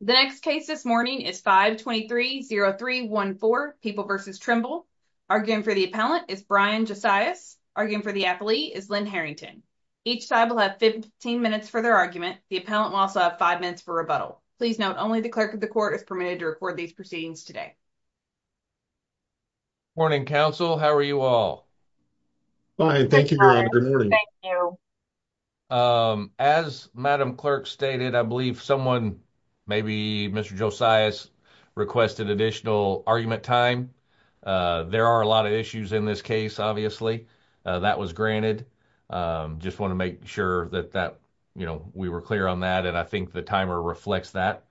The next case this morning is 523-0314, People v. Trimble. Arguing for the appellant is Brian Josias. Arguing for the athlete is Lynn Harrington. Each side will have 15 minutes for their argument. The appellant will also have five minutes for rebuttal. Please note, only the clerk of the court is permitted to record these proceedings today. Morning, counsel. How are you all? Fine. Thank you, Gordon. Good morning. Thank you. Um, as Madam Clerk stated, I believe someone, maybe Mr. Josias, requested additional argument time. Uh, there are a lot of issues in this case, obviously. Uh, that was granted. Um, just want to make sure that that, you know, we were clear on that, and I think the timer reflects that.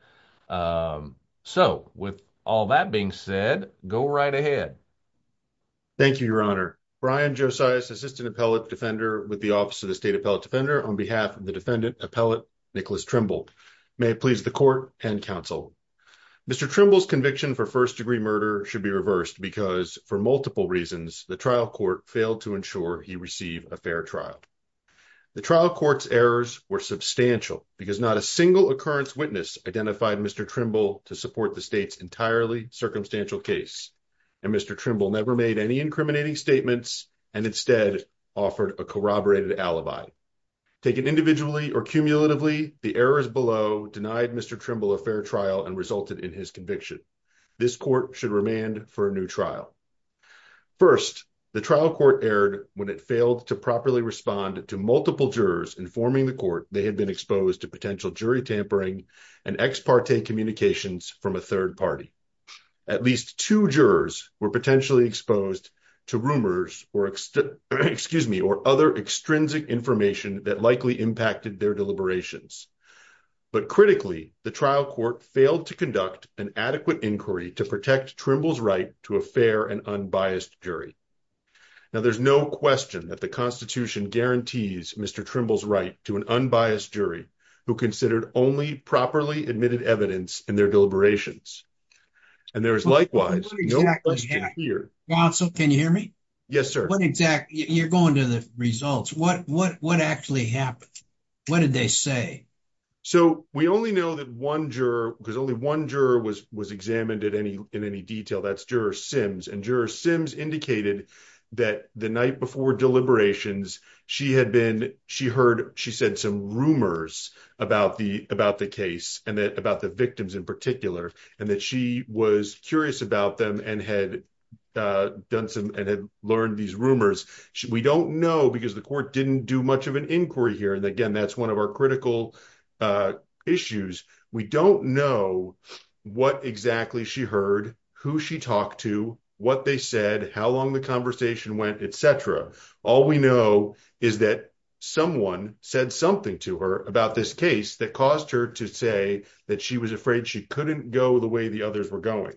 Um, so, with all that being said, go right ahead. Thank you, Your Honor. Brian Josias, Assistant Appellant Defender with the Office of the State Appellant Defender, on behalf of the Defendant Appellant Nicholas Trimble. May it please the court and counsel. Mr. Trimble's conviction for first-degree murder should be reversed because, for multiple reasons, the trial court failed to ensure he received a fair trial. The trial court's errors were substantial because not a single occurrence witness identified Mr. Trimble to support the state's entirely circumstantial case, and Mr. Trimble never made any incriminating statements and instead offered a corroborated alibi. Taken individually or cumulatively, the errors below denied Mr. Trimble a fair trial and resulted in his conviction. This court should remand for a new trial. First, the trial court erred when it failed to properly respond to multiple jurors informing the court they had been exposed to potential jury tampering and ex parte communications from a third party. At least two jurors were potentially exposed to rumors or other extrinsic information that likely impacted their deliberations. But critically, the trial court failed to conduct an adequate inquiry to protect Trimble's right to a fair and unbiased jury. Now, there's no question that the Constitution guarantees Mr. Trimble's right to an unbiased jury who considered only properly admitted evidence in their deliberations. And there is likewise, no question here- Counsel, can you hear me? Yes, sir. What exactly, you're going to the results. What actually happened? What did they say? So, we only know that one juror, because only one juror was examined in any detail, that's Juror Sims. And Juror Sims indicated that the night before deliberations, she had been, she heard, she said some rumors about the case and about the victims in particular, and that she was curious about them and had learned these rumors. We don't know, because the court didn't do much of an inquiry here. And again, that's one of our critical issues. We don't know what exactly she heard, who she talked to, what they said, how long the conversation went, et cetera. All we know is that someone said something to her about this case that caused her to say that she was afraid she couldn't go the way the others were going.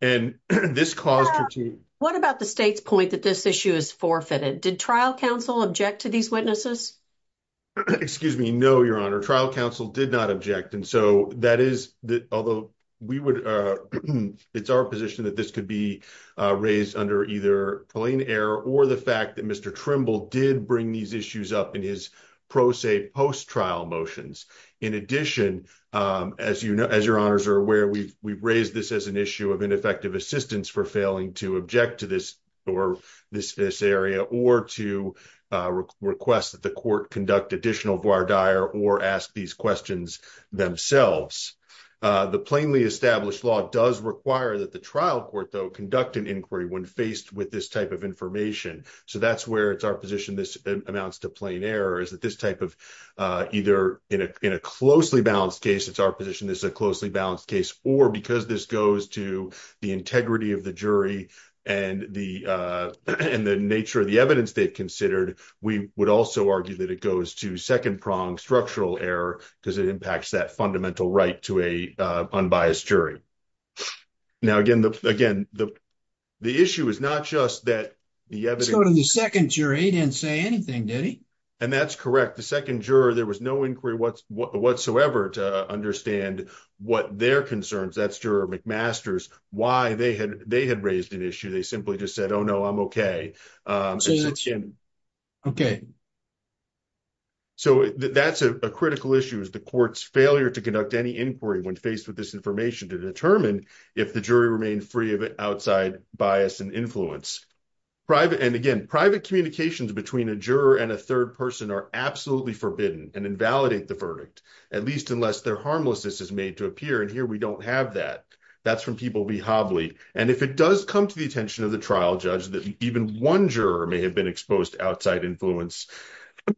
And this caused her to- What about the state's point that this issue is forfeited? Did trial counsel object to these witnesses? Excuse me. No, Your Honor. Trial counsel did not object. And so that is, although we would, it's our position that this could be raised under either plain error or the fact that Mr. Trimble did bring these issues up in his pro se post-trial motions. In addition, as Your Honors are aware, we've raised this as an issue of ineffective assistance for failing to object to this area or to request that the court conduct additional voir dire or ask these questions themselves. The plainly established law does require that the trial court, though, conduct an inquiry when faced with this type of information. So that's where it's our position this amounts to plain error, is that this type of either in a closely balanced case, it's our position this is a closely balanced case, or because this goes to the integrity of the jury and the nature of the evidence they've considered, we would also argue that it goes to second-prong structural error because it impacts that fundamental right to a unbiased jury. Now, again, the issue is not just that the evidence... The second jury didn't say anything, did he? And that's correct. The second juror, there was no inquiry whatsoever to understand what their concerns, that's juror McMaster's, why they had raised an issue. They simply just said, oh, no, I'm okay. So that's a critical issue is the court's failure to conduct any inquiry when faced with this information to determine if the jury remained free of outside bias and influence. And again, private communications between a juror and a third person are absolutely forbidden and invalidate the verdict, at least unless their harmlessness is made to appear. And here we don't have that. That's from people we hobbly. And if it does come to the attention of the trial judge that even one juror may have been exposed to outside influence,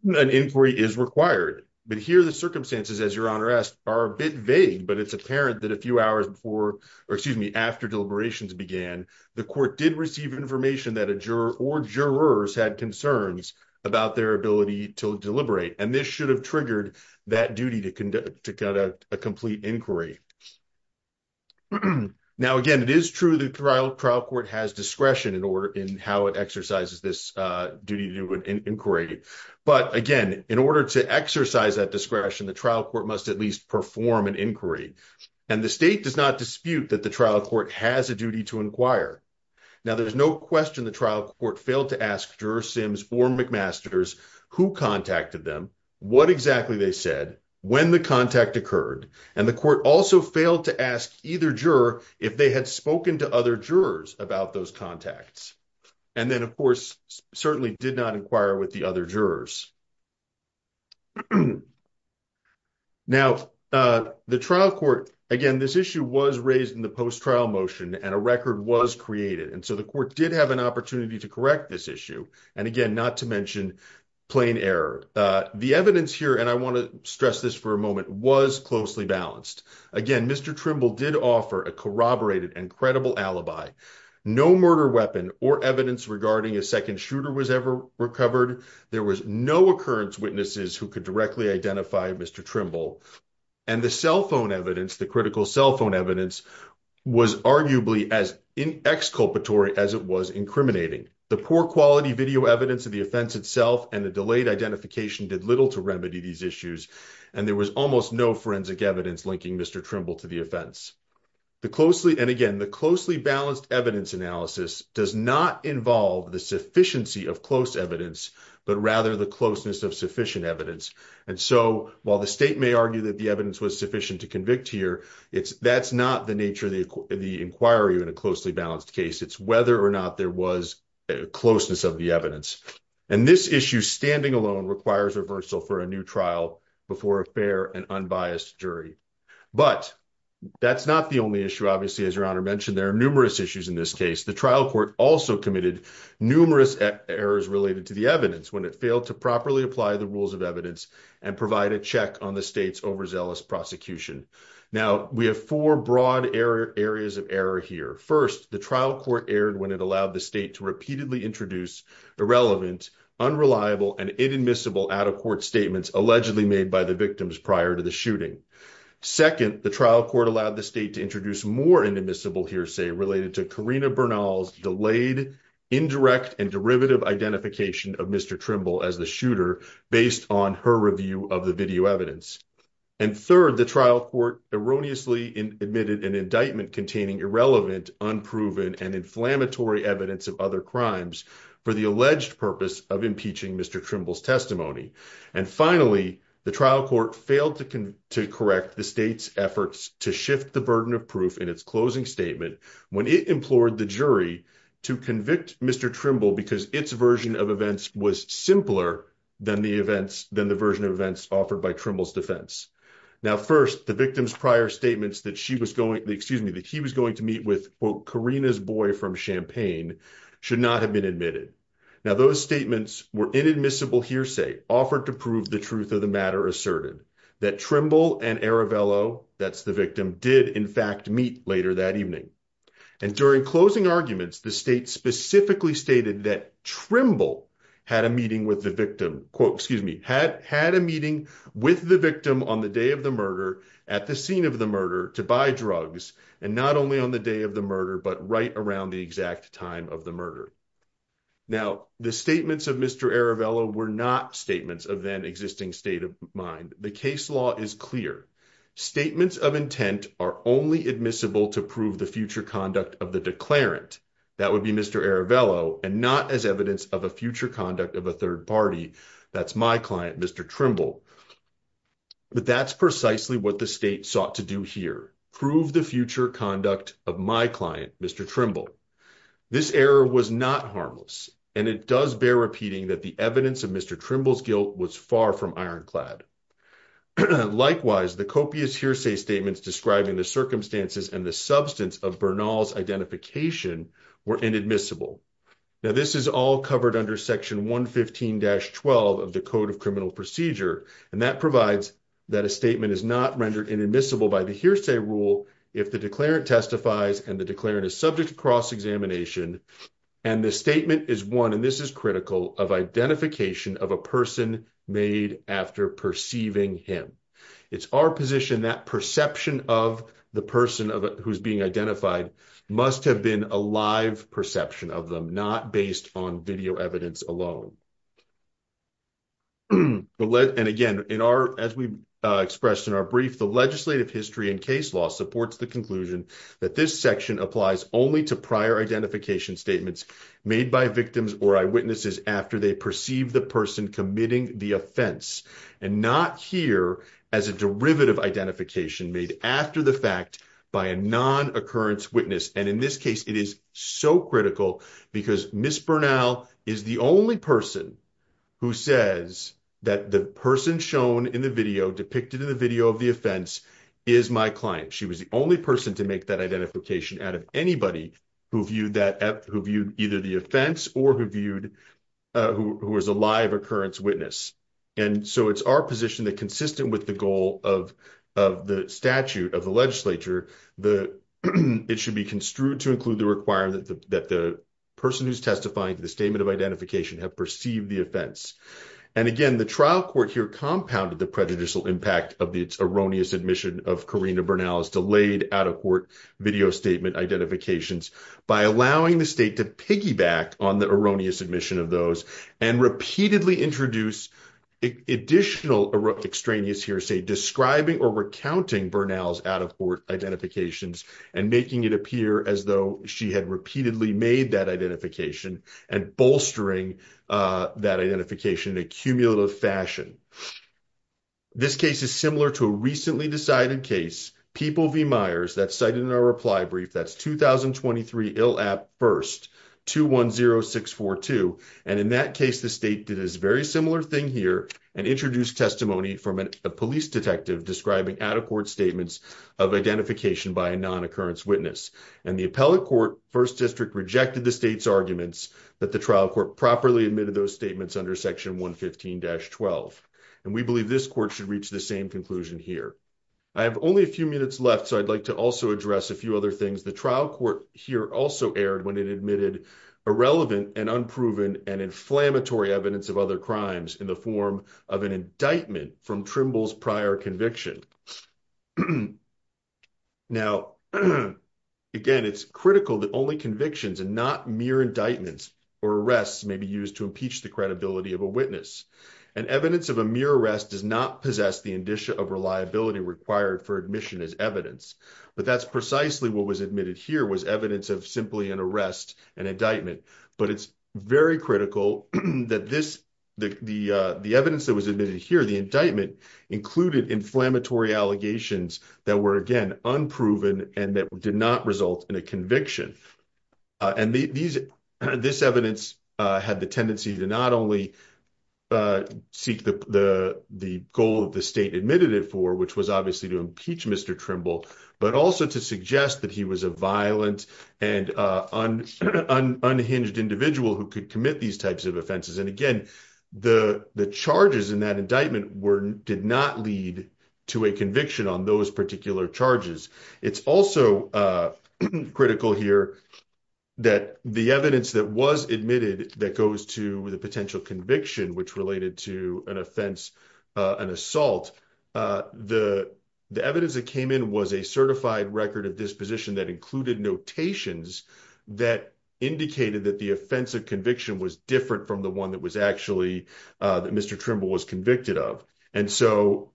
an inquiry is required. But here the circumstances, as your honor asked, are a bit vague, but it's apparent that a few hours before, or excuse me, after deliberations began, the court did receive information that a juror or jurors had concerns about their ability to deliberate. And this should have triggered that duty to conduct a complete inquiry. Now, again, it is true the trial court has discretion in how it exercises this duty to do an inquiry. But again, in order to exercise that discretion, the trial court must at least perform an inquiry. And the state does not dispute that the trial court has a duty to inquire. Now, there's no question the trial court failed to ask juror Sims or McMasters who contacted them, what exactly they said, when the contact occurred. And the court also failed to ask either juror if they had spoken to other jurors about those contacts. And then of course, certainly did not inquire with the other jurors. Now, the trial court, again, this issue was raised in the post-trial motion and a record was created. And so the court did have an opportunity to correct this issue. And again, not to mention plain error. The evidence here, and I want to stress this for a moment, was closely balanced. Again, Mr. Trimble did offer a corroborated and credible alibi. No murder weapon or evidence regarding a second shooter was ever recovered. There was no occurrence witnesses who could directly identify Mr. Trimble. And the cell phone evidence, the critical cell phone evidence was arguably as exculpatory as it was incriminating. The poor quality video evidence of the offense itself and the delayed identification did little to remedy these issues. And there was almost no forensic evidence linking Mr. Trimble to the offense. The closely, and again, the closely balanced evidence analysis does not involve the sufficiency of close evidence, but rather the closeness of sufficient evidence. And so while the state may argue that the evidence was sufficient to convict here, that's not the nature of the inquiry in a closely balanced case. It's whether or not there was closeness of the evidence. And this issue standing alone requires reversal for a new trial before a fair and unbiased jury. But that's not the only issue. Obviously, as your honor mentioned, there are numerous issues in this case. The trial court also committed numerous errors related to the evidence when it failed to properly apply the rules of evidence and provide a check on the state's overzealous prosecution. Now we have four broad areas of error here. First, the trial court erred when it allowed the state to repeatedly introduce irrelevant, unreliable, and inadmissible out of court statements allegedly made by the victims prior to the shooting. Second, the trial court allowed the state to introduce more inadmissible hearsay related to Karina Bernal's delayed, indirect, and derivative identification of Mr. Trimble as the shooter based on her review of the video evidence. And third, the trial court erroneously admitted an indictment containing irrelevant, unproven, and inflammatory evidence of other crimes for the alleged purpose of impeaching Mr. Trimble's trial. The trial court failed to correct the state's efforts to shift the burden of proof in its closing statement when it implored the jury to convict Mr. Trimble because its version of events was simpler than the version of events offered by Trimble's defense. Now first, the victim's prior statements that he was going to meet with, quote, Karina's boy from Champaign should not have been admitted. Now those statements were inadmissible hearsay offered to prove the truth of the matter asserted that Trimble and Aravelo, that's the victim, did in fact meet later that evening. And during closing arguments, the state specifically stated that Trimble had a meeting with the victim, quote, excuse me, had had a meeting with the victim on the day of the murder at the scene of the murder to buy drugs, and not only on the day of the murder, but right around the exact time of the murder. Now, the statements of Mr. Aravelo were not statements of then existing state of mind. The case law is clear. Statements of intent are only admissible to prove the future conduct of the declarant. That would be Mr. Aravelo, and not as evidence of a future conduct of a third party, that's my client, Mr. Trimble. But that's precisely what the state sought to do here, prove the future conduct of my client, Mr. Trimble. This error was not harmless, and it does bear repeating that the evidence of Mr. Trimble's guilt was far from ironclad. Likewise, the copious hearsay statements describing the circumstances and the substance of Bernal's identification were inadmissible. Now this is all covered under section 115-12 of the Code of Criminal Procedure, and that provides that a statement is not rendered inadmissible by the hearsay rule if the declarant testifies and the declarant is subject to cross examination, and the statement is one, and this is critical, of identification of a person made after perceiving him. It's our position that perception of the person who's being identified must have been a live perception of them, not based on video evidence alone. And again, as we expressed in our brief, the legislative history and case law supports the conclusion that this section applies only to prior identification statements made by victims or eyewitnesses after they perceive the person committing the offense, and not here as a derivative identification made after the fact by a non-occurrence witness. And in this case, it is so critical because Ms. Bernal is the only person who says that the person shown in the video, depicted in the video of the offense, is my client. She was the only person to make that identification out of anybody who viewed either the offense or who was a live occurrence witness. And so it's our position that consistent with the goal of the statute of the legislature, it should be construed to include the requirement that the person who's testifying to the statement of identification have perceived the offense. And again, the trial court here compounded the prejudicial impact of its erroneous admission of Corrina Bernal's delayed out-of-court video statement identifications by allowing the state to piggyback on the erroneous admission of those and repeatedly introduce additional extraneous hearsay describing or recounting Bernal's out-of-court identifications and making it appear as though she had repeatedly made that identification and bolstering that identification in a cumulative fashion. This case is similar to a recently decided case, People v. Myers, that's cited in our reply brief. That's 2023 ILAP 1st 210642. And in that case, the state did this very similar thing here and introduced testimony from a police detective describing out-of-court statements of identification by a non-occurrence witness. And the appellate court 1st District rejected the state's arguments that the trial court properly admitted those statements under Section 115-12. And we believe this court should reach the same conclusion here. I have only a few minutes left, so I'd like to also address a few other things. The trial court here also erred when it admitted irrelevant and unproven and inflammatory evidence of other crimes in the form of an indictment from Trimble's prior conviction. Now, again, it's critical that only convictions and not mere indictments or arrests may be used to impeach the credibility of a witness. And evidence of a mere arrest does not possess the indicia of reliability required for admission as evidence. But that's precisely what was admitted here, was evidence of simply an arrest, an indictment. But it's very critical that the evidence that was admitted here, the indictment, included inflammatory allegations that were, again, unproven and that did not result in a conviction. And this evidence had the tendency to not only seek the goal that the state admitted it for, which was obviously to impeach Mr. Trimble, but also to suggest that he was a violent and unhinged individual who could commit these types of offenses. And again, the charges in that indictment did not lead to a conviction on those particular charges. It's also critical here that the evidence that was admitted that goes to the which related to an offense, an assault, the evidence that came in was a certified record of disposition that included notations that indicated that the offense of conviction was different from the one that was actually, that Mr. Trimble was convicted of. And so,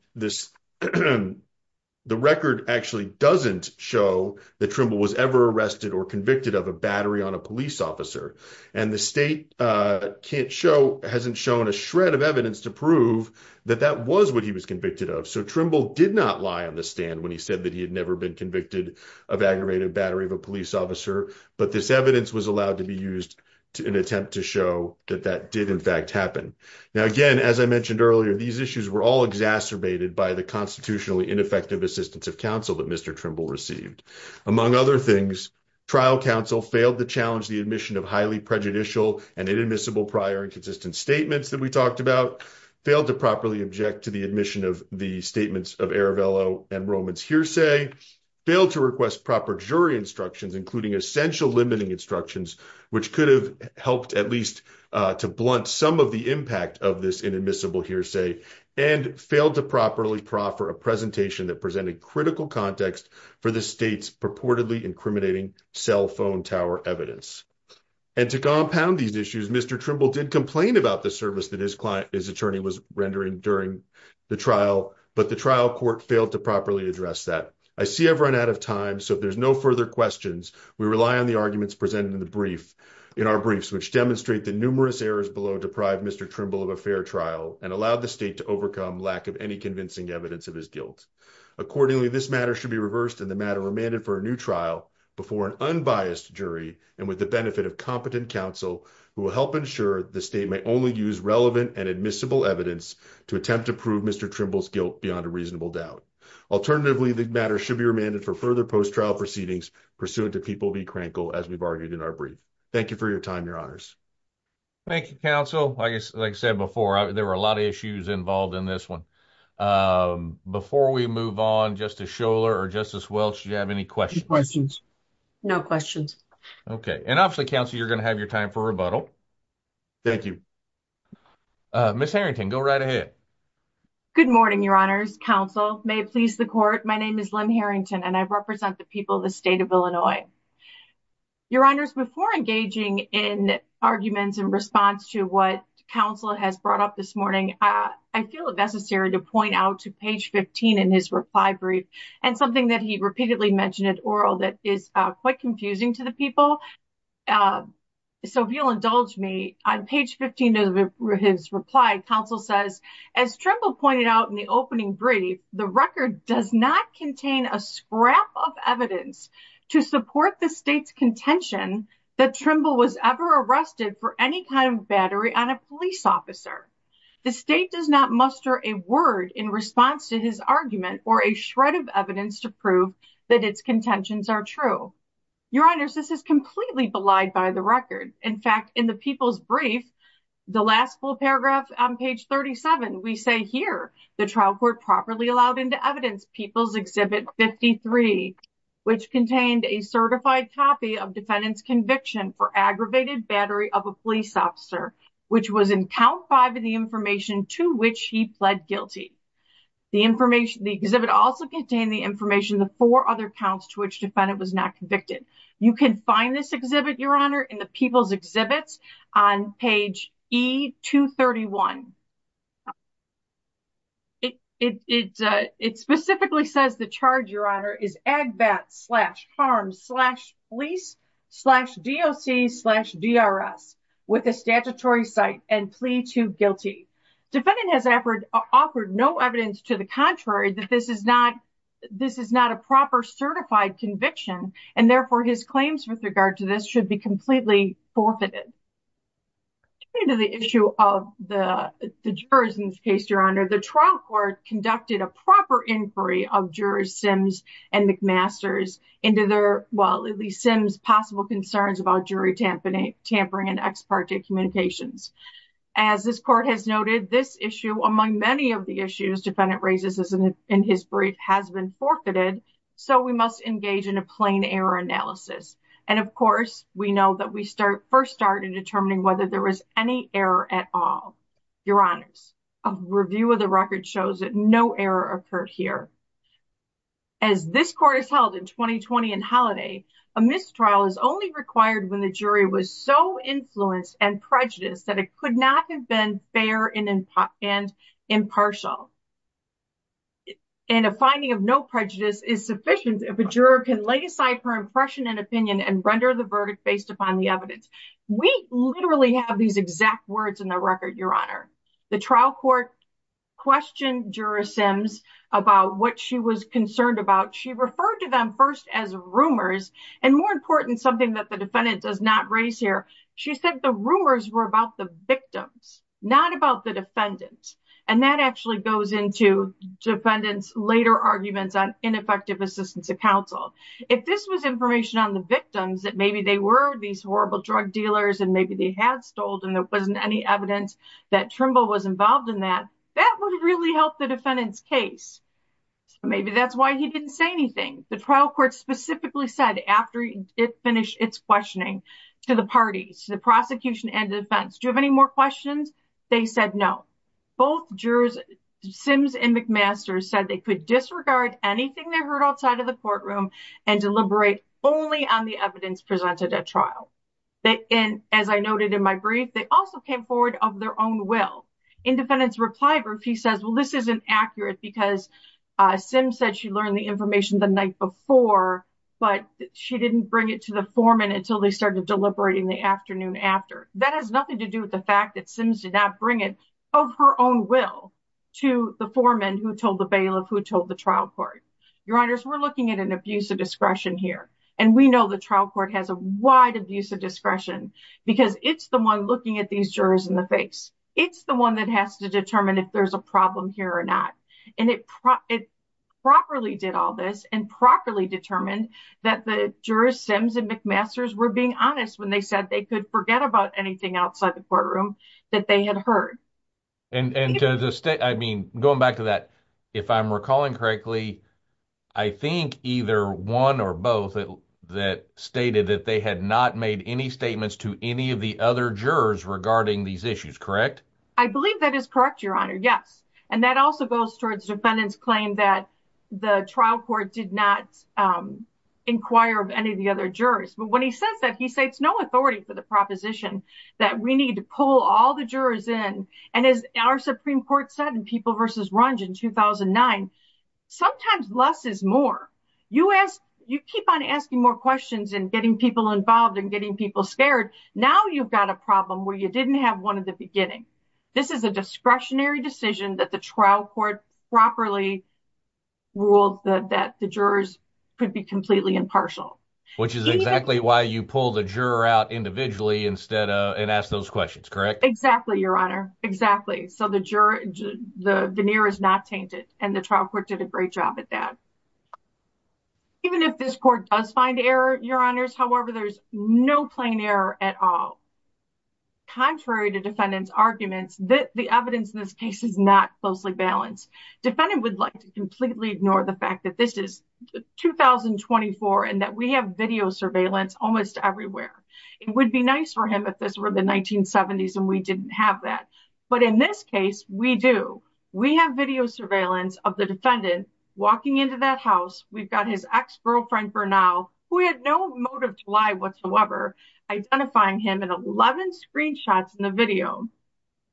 the record actually doesn't show that Trimble was ever arrested or convicted of a battery on police officer. And the state can't show, hasn't shown a shred of evidence to prove that that was what he was convicted of. So, Trimble did not lie on the stand when he said that he had never been convicted of aggravated battery of a police officer. But this evidence was allowed to be used to an attempt to show that that did in fact happen. Now, again, as I mentioned earlier, these issues were all exacerbated by the constitutionally ineffective assistance of received. Among other things, trial counsel failed to challenge the admission of highly prejudicial and inadmissible prior and consistent statements that we talked about, failed to properly object to the admission of the statements of Aravello and Roman's hearsay, failed to request proper jury instructions, including essential limiting instructions, which could have helped at least to blunt some of the impact of this inadmissible hearsay, and failed to properly proffer a presentation that presented critical context for the state's purportedly incriminating cell phone tower evidence. And to compound these issues, Mr. Trimble did complain about the service that his attorney was rendering during the trial, but the trial court failed to properly address that. I see I've run out of time, so if there's no further questions, we rely on the arguments presented in our briefs, which demonstrate the numerous errors below deprived Mr. Trimble of a fair trial and allowed the state to overcome lack of any convincing evidence of his guilt. Accordingly, this matter should be reversed and the matter remanded for a new trial before an unbiased jury and with the benefit of competent counsel who will help ensure the state may only use relevant and admissible evidence to attempt to prove Mr. Trimble's guilt beyond a reasonable doubt. Alternatively, the matter should be remanded for further post-trial proceedings pursuant to People v. Krankel, as we've argued in our brief. Thank you for your time, your honors. Thank you, counsel. Like I said before, there were a lot of issues involved in this one. Before we move on, Justice Scholar or Justice Welch, do you have any questions? Questions. No questions. Okay. And obviously, counsel, you're going to have your time for rebuttal. Thank you. Ms. Harrington, go right ahead. Good morning, your honors. Counsel, may it please the court, my name is Lynn Harrington and I represent the people of the state of Illinois. Your honors, before engaging in arguments in response to what counsel has brought up this morning, I feel it necessary to point out to page 15 in his reply brief and something that he repeatedly mentioned at oral that is quite confusing to the people. So if you'll indulge me, on page 15 of his reply, counsel says, as Trimble pointed out in the opening brief, the record does not contain a scrap of evidence to support the state's contention that Trimble was ever arrested for any kind of battery on a police officer. The state does not muster a word in response to his argument or a shred of evidence to prove that its contentions are true. Your honors, this is completely belied by the record. In fact, in the people's brief, the last full paragraph on page 37, we say here, the trial court properly allowed into evidence people's exhibit 53, which contained a certified copy of defendant's conviction for aggravated battery of a police officer, which was in count five of the information to which he pled guilty. The exhibit also contained the information, the four other counts to which defendant was not convicted. You can find this exhibit, your honor, in the people's exhibits on page E-231. It specifically says the charge, your honor, is agbat slash harm slash police slash DOC slash DRS with a statutory site and plea to guilty. Defendant has offered no evidence to the contrary that this is not a proper certified conviction, and therefore his claims with regard to this should be completely forfeited. In the issue of the jurors in this case, your honor, the trial court conducted a proper inquiry of jurors Sims and McMasters into their, well, at least Sims' possible concerns about jury tampering and ex parte communications. As this court has noted, this issue, among many of the issues defendant raises in his brief, has been forfeited, so we must engage in a plain error analysis. And of course, we know that we first start in determining whether there was any error at all. Your honors, a review of the record shows that no error occurred here. As this court is held in 2020 and holiday, a mistrial is only required when the jury was so influenced and prejudiced that it could not have been fair and impartial. And a finding of no prejudice is sufficient if a juror can lay aside her impression and opinion and render the verdict based upon the evidence. We literally have these exact words in the record, your honor. The trial court questioned juror Sims about what she was concerned about. She referred to them first as rumors, and more important, something that the defendant does not raise here. She said the rumors were about the victims, not about the defendants. And that actually goes into defendants' later arguments on ineffective assistance of counsel. If this was information on the victims, that maybe they were these horrible drug dealers and maybe they had stoled and there wasn't any evidence that Trimble was involved in that, that would really help the defendant's case. Maybe that's why he didn't say anything. The trial court specifically said after it finished its questioning to the parties, the prosecution and defense, do you have any more questions? They said no. Both jurors, Sims and McMaster, said they could disregard anything they heard outside of the courtroom and deliberate only on the evidence presented at trial. And as I noted in my brief, they also came forward of their own will. In defendant's reply brief, he says, well, this isn't accurate because Sims said she learned the information the night before, but she didn't bring it to the foreman until they started deliberating the afternoon after. That has nothing to do with the fact that Sims did not bring it of her own will to the foreman who told the bailiff, who told the trial court. Your honors, we're looking at an abuse of discretion here. And we know the trial court has a wide abuse of discretion because it's the one looking at these jurors in the face. It's the has to determine if there's a problem here or not. And it properly did all this and properly determined that the jurors, Sims and McMaster's were being honest when they said they could forget about anything outside the courtroom that they had heard. And to the state, I mean, going back to that, if I'm recalling correctly, I think either one or both that stated that they had not made any statements to any of the other jurors regarding these issues, correct? I believe that is correct, your honor. Yes. And that also goes towards defendant's claim that the trial court did not inquire of any of the other jurors. But when he says that, he said it's no authority for the proposition that we need to pull all the jurors in. And as our Supreme Court said in People versus Runge in 2009, sometimes less is more. You ask, you keep on asking more questions and getting people involved and getting people scared. Now you've got a problem where you didn't have one at the beginning. This is a discretionary decision that the trial court properly ruled that the jurors could be completely impartial. Which is exactly why you pull the juror out individually instead and ask those questions, correct? Exactly, your honor. Exactly. So the veneer is not tainted and the trial court did a great job at that. Even if this court does find error, your honors, however, there's no plain error at all. Contrary to defendant's arguments, the evidence in this case is not closely balanced. Defendant would like to completely ignore the fact that this is 2024 and that we have video surveillance almost everywhere. It would be nice for him if this were the 1970s and we didn't have that. But in this case we do. We have video surveillance of the defendant walking into that house. We've got his ex-girlfriend for now, who had no motive to lie whatsoever, identifying him in 11 screenshots in the video.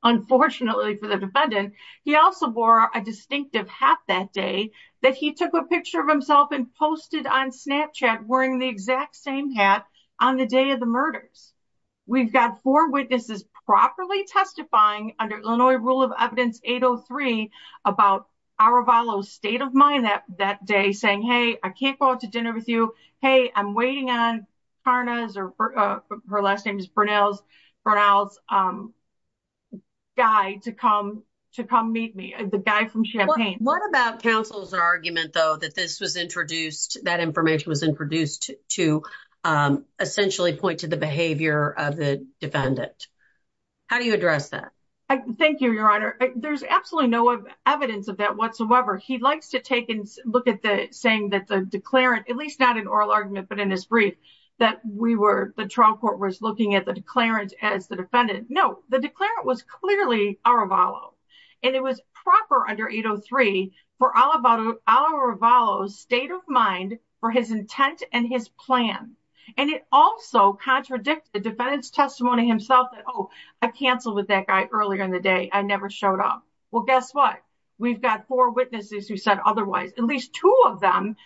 Unfortunately for the defendant, he also wore a distinctive hat that day that he took a picture of himself and posted on Snapchat wearing the exact same hat on the day of the under Illinois Rule of Evidence 803 about Aravalo's state of mind that that day saying, hey, I can't go out to dinner with you. Hey, I'm waiting on Karna's or her last name is Bernal's guy to come to come meet me, the guy from Champaign. What about counsel's argument, though, that this was introduced, that information was introduced to essentially point to the Thank you, Your Honor. There's absolutely no evidence of that whatsoever. He likes to take and look at the saying that the declarant, at least not in oral argument, but in his brief, that we were the trial court was looking at the declarant as the defendant. No, the declarant was clearly Aravalo. And it was proper under 803 for all about Aravalo's state of mind for his intent and his plan. And it also contradict the defendant's testimony himself that, I canceled with that guy earlier in the day. I never showed up. Well, guess what? We've got four witnesses who said otherwise, at least two of them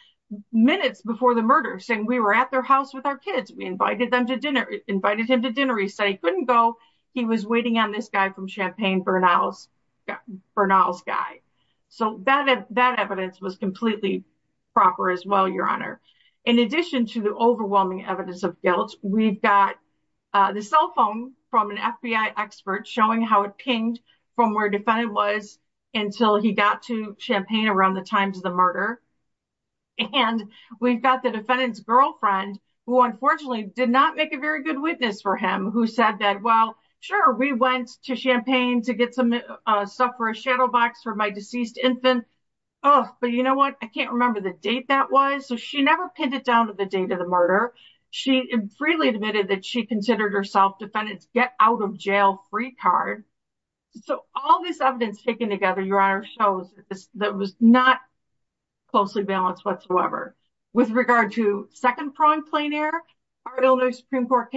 minutes before the murder, saying we were at their house with our kids. We invited them to dinner, invited him to dinner. He said he couldn't go. He was waiting on this guy from Champaign, Bernal's guy. So that evidence was completely proper as well, Your Honor. In addition to the overwhelming evidence of guilt, we've got the cell phone from an FBI expert showing how it pinged from where defendant was until he got to Champaign around the times of the murder. And we've got the defendant's girlfriend, who unfortunately did not make a very good witness for him, who said that, well, sure, we went to Champaign to get some stuff for a shadow box for my deceased infant. But you know what? I can't remember the date that was. So she never pinned it down to the murder. She freely admitted that she considered herself defendant's get-out-of-jail-free card. So all this evidence taken together, Your Honor, shows that was not closely balanced whatsoever. With regard to second-pronged plein air, our Illinois Supreme Court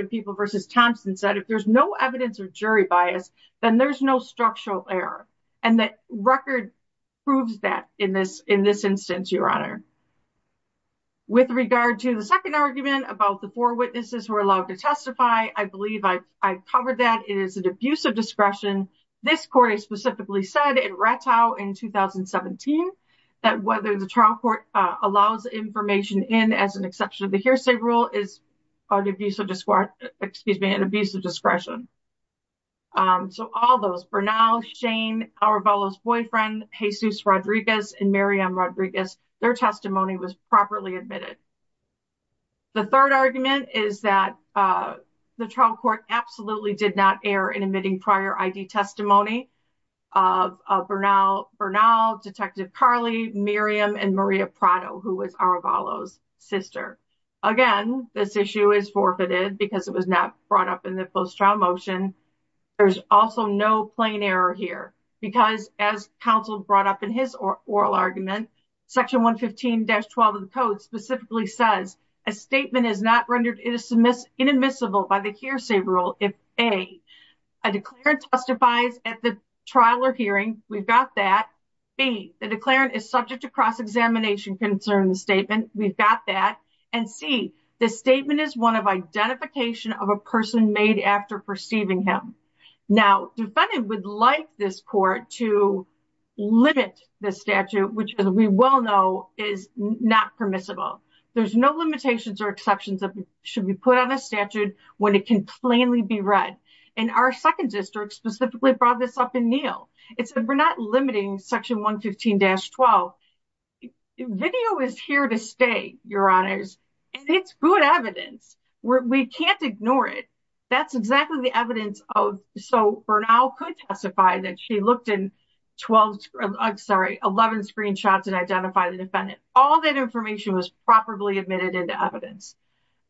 and People v. Thompson said if there's no evidence of jury bias, then there's no structural error. And the record proves that in this instance, Your Honor. With regard to the second argument about the four witnesses who were allowed to testify, I believe I covered that. It is an abuse of discretion. This court specifically said in Rattow in 2017 that whether the trial court allows information in as an exception to the hearsay rule is an abuse of discretion. So all those, Bernal, Shane, Aravalo's boyfriend, Jesus Rodriguez, and Miriam Rodriguez, their testimony was properly admitted. The third argument is that the trial court absolutely did not err in admitting prior ID testimony of Bernal, Detective Carley, Miriam, and Maria Prado, who was Aravalo's sister. Again, this issue is forfeited because it was not brought up in the trial motion. There's also no plain error here. Because as counsel brought up in his oral argument, section 115-12 of the code specifically says a statement is not rendered inadmissible by the hearsay rule if A, a declarant testifies at the trial or hearing. We've got that. B, the declarant is subject to cross-examination concerning the statement. We've got that. And C, the statement is one of identification of a person made after perceiving him. Now, defendant would like this court to limit the statute, which as we well know is not permissible. There's no limitations or exceptions that should be put on a statute when it can plainly be read. And our second district specifically brought this up in Neal. It said we're not limiting section 115-12. Video is here to stay, your honors. And it's good evidence. We can't ignore it. That's exactly the evidence so Bernal could testify that she looked in 11 screenshots and identified the defendant. All that information was properly admitted into evidence.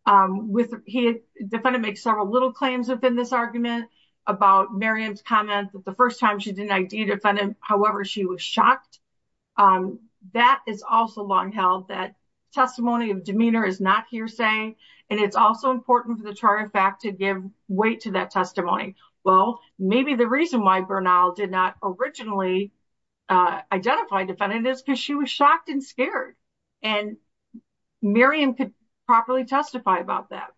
The defendant makes several little claims within this argument about Miriam's comment that the first time she however, she was shocked. That is also long held that testimony of demeanor is not hearsay. And it's also important for the charge of fact to give weight to that testimony. Well, maybe the reason why Bernal did not originally identify defendant is because she was shocked and scared. And Miriam could properly testify about that.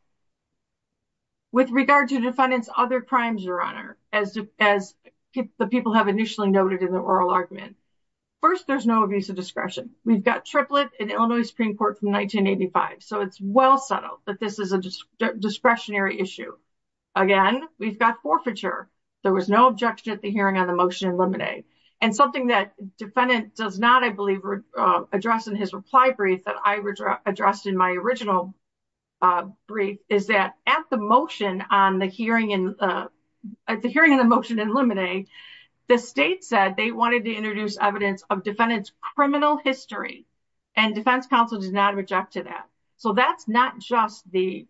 With regard to defendants, other crimes, your honor, as the people have initially noted in the oral argument. First, there's no abuse of discretion. We've got triplet in Illinois Supreme Court from 1985. So it's well settled that this is a discretionary issue. Again, we've got forfeiture. There was no objection at the hearing on the motion in Lemonade. And something that defendant does not, I believe, address in his reply brief that I addressed in my original brief is that at the motion on the hearing and at the hearing of the motion in Lemonade, the state said they wanted to introduce evidence of defendant's criminal history. And defense counsel does not object to that. So that's not just the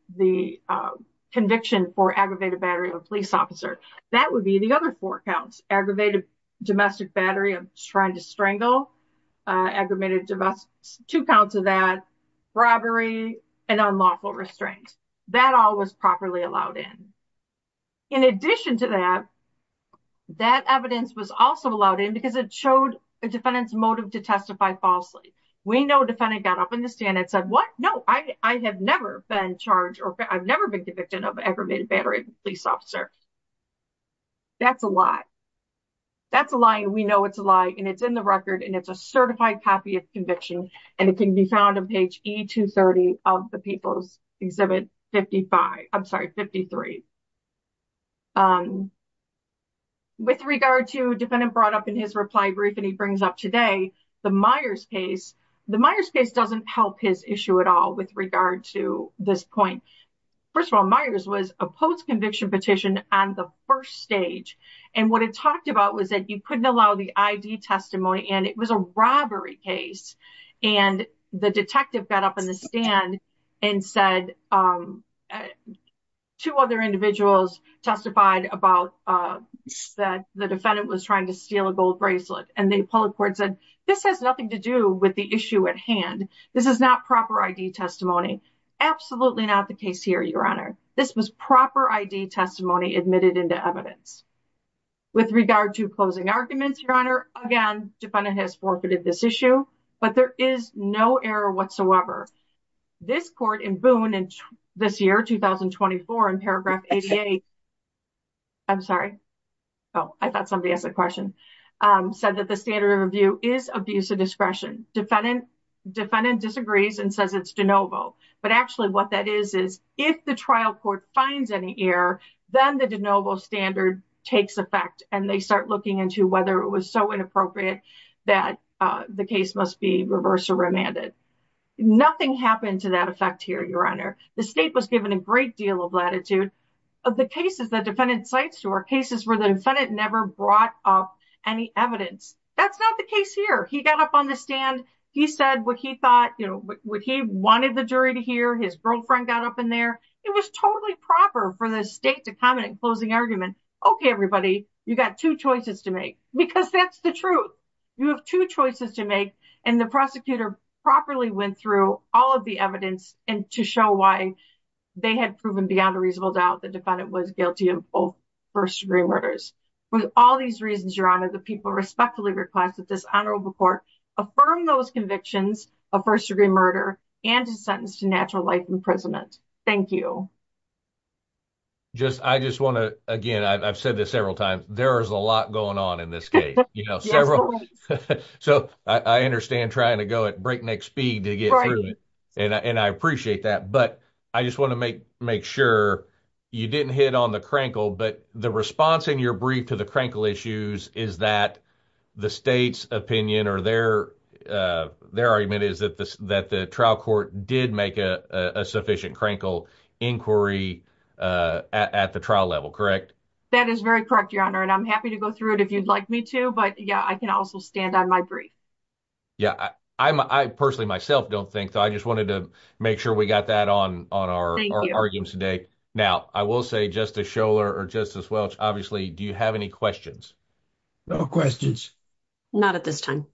conviction for aggravated battery of a police officer. That would be the other four counts aggravated domestic battery of trying to strangle aggravated two counts of that robbery and unlawful restraint. That all was properly allowed in. In addition to that, that evidence was also allowed in because it showed a defendant's motive to testify falsely. We know defendant got up in the stand and said, what? No, I have never been charged or I've never been convicted of aggravated battery of a police officer. That's a lie. That's a lie. And we know it's a lie. And it's in the record. And it's a certified copy of conviction. And it can be found on page E230 of the People's Exhibit 55, I'm sorry, 53. With regard to defendant brought up in his reply brief, and he brings up today, the Myers case, the Myers case doesn't help his issue at all with regard to this point. First of all, Myers was a post conviction petition on the first stage. And what it talked about was that you couldn't allow the ID testimony and it was a robbery case. And the detective got up in the stand and said, two other individuals testified about that the defendant was trying to steal a gold bracelet. And the public court said, this has nothing to do with the issue at hand. This is not proper ID testimony. Absolutely not the case here, Your Honor. This was proper ID testimony admitted into evidence. With regard to closing arguments, Your Honor, again, defendant has forfeited this issue, but there is no error whatsoever. This court in Boone and this year 2024 in paragraph 88. I'm sorry. Oh, I thought somebody asked a question. Said that the standard of review is abuse of discretion. Defendant disagrees and says it's de novo. But actually what that is, is if the trial court finds any error, then the de novo standard takes effect and they start looking into whether it was so inappropriate that the case must be reversed or remanded. Nothing happened to that effect here, Your Honor. The state was given a great deal of latitude of the cases that defendant cites to our cases where the defendant never brought up any evidence. That's not the case here. He got up on the stand. He said what he thought, you know, what he wanted the jury to hear. His girlfriend got up in there. It was totally proper for the state to comment closing argument. Okay, everybody, you got two choices to make, because that's the truth. You have two choices to make. And the prosecutor properly went through all of the evidence and to show why they had proven beyond a reasonable doubt the defendant was guilty of both first-degree murders. With all these reasons, Your Honor, the people respectfully request that this honorable court affirm those convictions of first-degree murder and his sentence to natural life imprisonment. Thank you. Just, I just want to, again, I've said this several times, there is a lot going on in this case, you know, several. So I understand trying to go at breakneck speed to get through it. And I appreciate that. But I just want to make sure you didn't hit on the crankle, but the response in your brief to the crankle issues is that the state's opinion or their argument is that the trial court did make a sufficient crankle inquiry at the trial level, correct? That is very correct, Your Honor. And I'm happy to go through it if you'd like me to, but yeah, I can also stand on my brief. Yeah, I personally, myself, don't think so. I just wanted to make sure we got that on our arguments today. Now, I will say, Justice Scholar or Justice Welch, obviously, do you have any questions? No questions. Not at this time.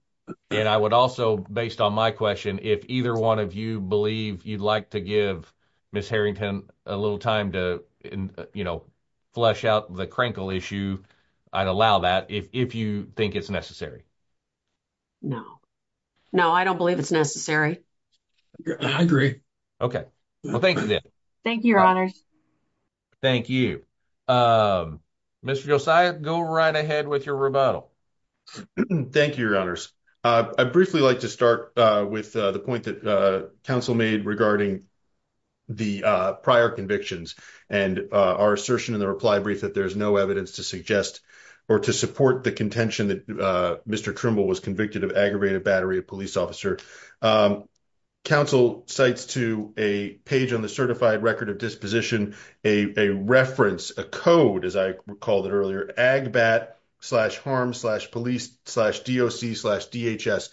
And I would also, based on my question, if either one of you believe you'd like to give Ms. Harrington a little time to, you know, flesh out the crankle issue, I'd allow that if you think it's necessary. No. No, I don't believe it's necessary. I agree. Okay. Well, thank you then. Thank you, Your Honors. Thank you. Mr. Josiah, go right ahead with your rebuttal. Thank you, Your Honors. I'd briefly like to start with the point that counsel made regarding the prior convictions and our assertion in the reply brief that there's no evidence to suggest or to support the contention that Mr. Trimble was convicted of aggravated battery of police officer. Counsel cites to a page on the certified record of disposition a reference, a code, as I recalled it earlier, AGBAT slash harm slash police slash DOC slash DHS.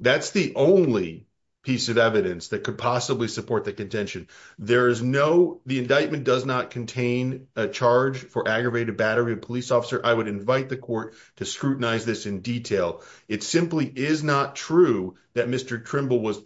That's the only piece of evidence that could possibly support the contention. The indictment does not contain a charge for aggravated battery of police officer. I would invite the court to scrutinize this in detail. It simply is not true that Mr. Trimble was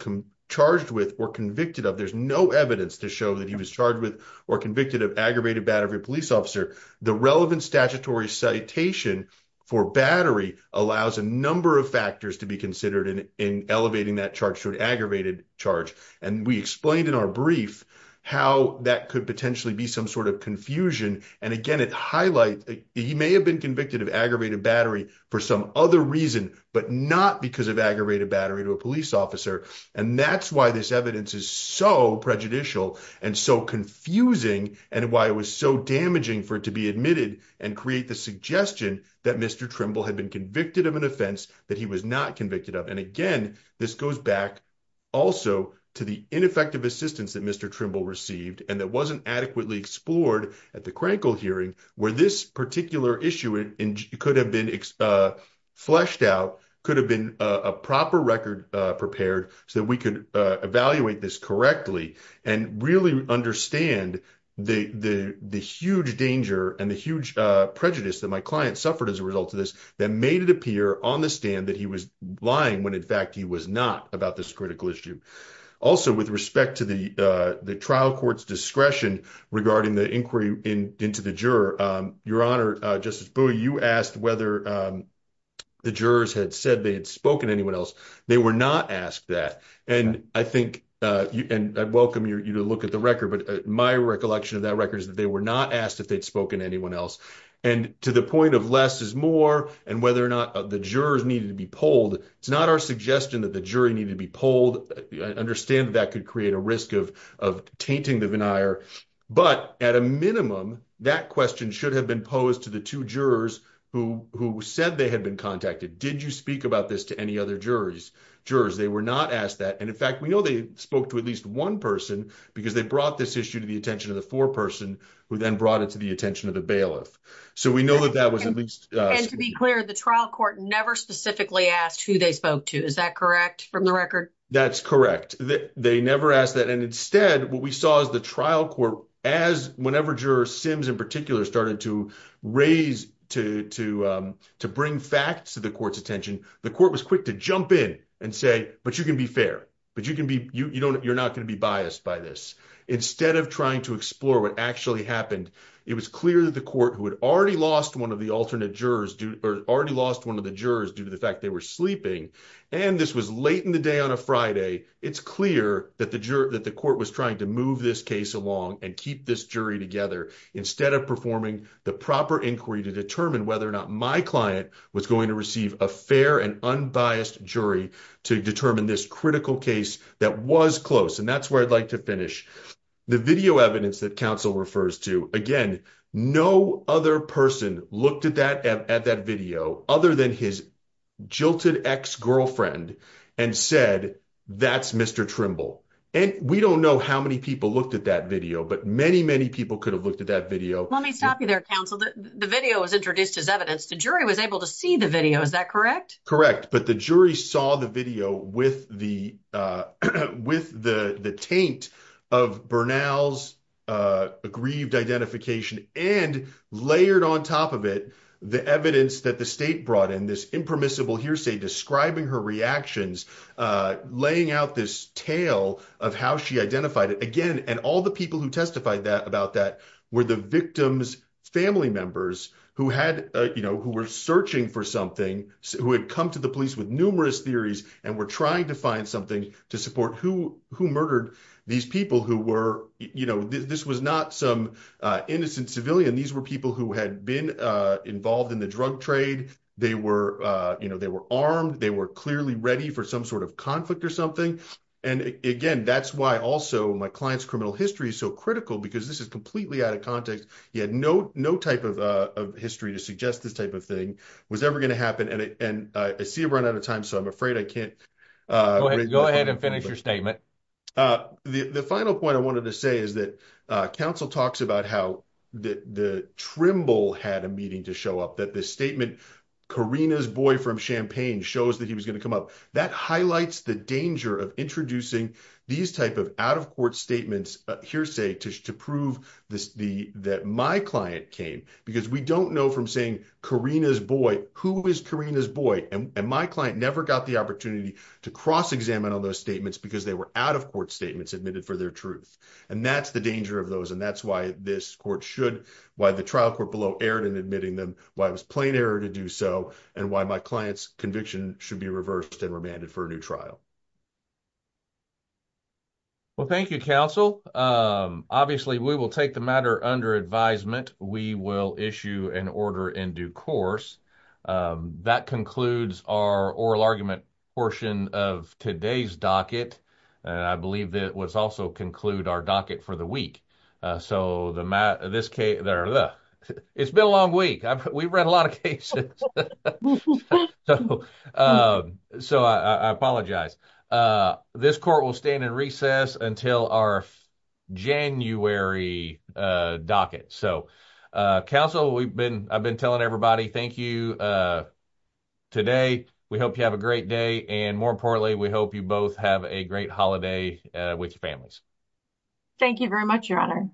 charged with or convicted of. There's no evidence to show that he was charged with or convicted of aggravated battery of police officer. The relevant statutory citation for battery allows a number of factors to be considered in elevating that charge to an aggravated charge. We explained in our brief how that could potentially be some sort of confusion. He may have been convicted of aggravated battery for some other reason, but not because of aggravated battery to a police officer. That's why this evidence is so prejudicial and so confusing and why it was so damaging for it to be admitted and create the suggestion that Mr. Trimble had been convicted of an offense that he was not convicted of. Again, this goes back also to the ineffective assistance that Mr. Trimble received and that wasn't adequately explored at the Crankle hearing where this particular issue could have been fleshed out, could have been a proper record prepared so that we could evaluate this correctly and really understand the huge danger and the huge prejudice that my client suffered as a result of this that made it appear on the stand that he was lying when in fact he was not about this critical issue. Also, with respect to the trial court's discretion regarding the inquiry into the juror, Your Honor, Justice Booey, you asked whether the jurors had said they had spoken to anyone else. They were not asked that. I welcome you to look at the record, but my recollection of that record is that they were not asked if they'd spoken to anyone else. To the point of less is more and whether or not the jurors needed to be polled, it's not our suggestion that the jury needed to be polled. I understand that that could create a risk of tainting the veneer, but at a minimum, that question should have been posed to the two jurors who said they had been contacted. Did you speak about this to any other jurors? They were not asked that. In fact, we know they spoke to at least one person because they brought this issue to the attention of the foreperson who then brought it to the attention of the bailiff. To be clear, the trial court never specifically asked who they spoke to. Is that correct from the record? That's correct. They never asked that. Instead, what we raised to bring facts to the court's attention, the court was quick to jump in and say, but you can be fair. You're not going to be biased by this. Instead of trying to explore what actually happened, it was clear that the court, who had already lost one of the alternate jurors due to the fact they were sleeping, and this was late in the day on a Friday, it's clear that the court was trying to move this case along and keep this jury together instead of performing the proper inquiry to determine whether or not my client was going to receive a fair and unbiased jury to determine this critical case that was close. And that's where I'd like to finish. The video evidence that counsel refers to, again, no other person looked at that video other than his jilted ex-girlfriend and said, that's Mr. Trimble. We don't know how many people looked at that video, but many, many people could have looked at that video. Let me stop you there, counsel. The video was introduced as evidence. The jury was able to see the video. Is that correct? Correct. But the jury saw the video with the taint of Bernal's aggrieved identification and layered on top of it the evidence that the state identified. All the people who testified about that were the victim's family members who were searching for something, who had come to the police with numerous theories and were trying to find something to support who murdered these people. This was not some innocent civilian. These were people who had been involved in the drug trade. They were armed. They were clearly ready for some sort of conflict or something. And again, that's why also my client's criminal history is so critical because this is completely out of context. He had no type of history to suggest this type of thing was ever going to happen. And I see a run out of time, so I'm afraid I can't go ahead and finish your statement. The final point I wanted to say is that counsel talks about how the Trimble had a meeting to show up, that this statement, Karina's boy from Champaign shows that he was going to come up. That highlights the danger of introducing these type of out-of-court statements, hearsay, to prove that my client came because we don't know from saying Karina's boy, who is Karina's boy? And my client never got the opportunity to cross-examine on those statements because they were out-of-court statements admitted for their truth. And that's the danger of those. And that's why this court should, why the trial court below erred in why it was plain error to do so, and why my client's conviction should be reversed and remanded for a new trial. Well, thank you, counsel. Obviously, we will take the matter under advisement. We will issue an order in due course. That concludes our oral argument portion of today's docket. And I believe that was also conclude our docket for the week. It's been a long week. We've read a lot of cases. So I apologize. This court will stand in recess until our January docket. So, counsel, I've been telling everybody, thank you today. We hope you have a great day. And more we hope you both have a great holiday with your families. Thank you very much, your honor.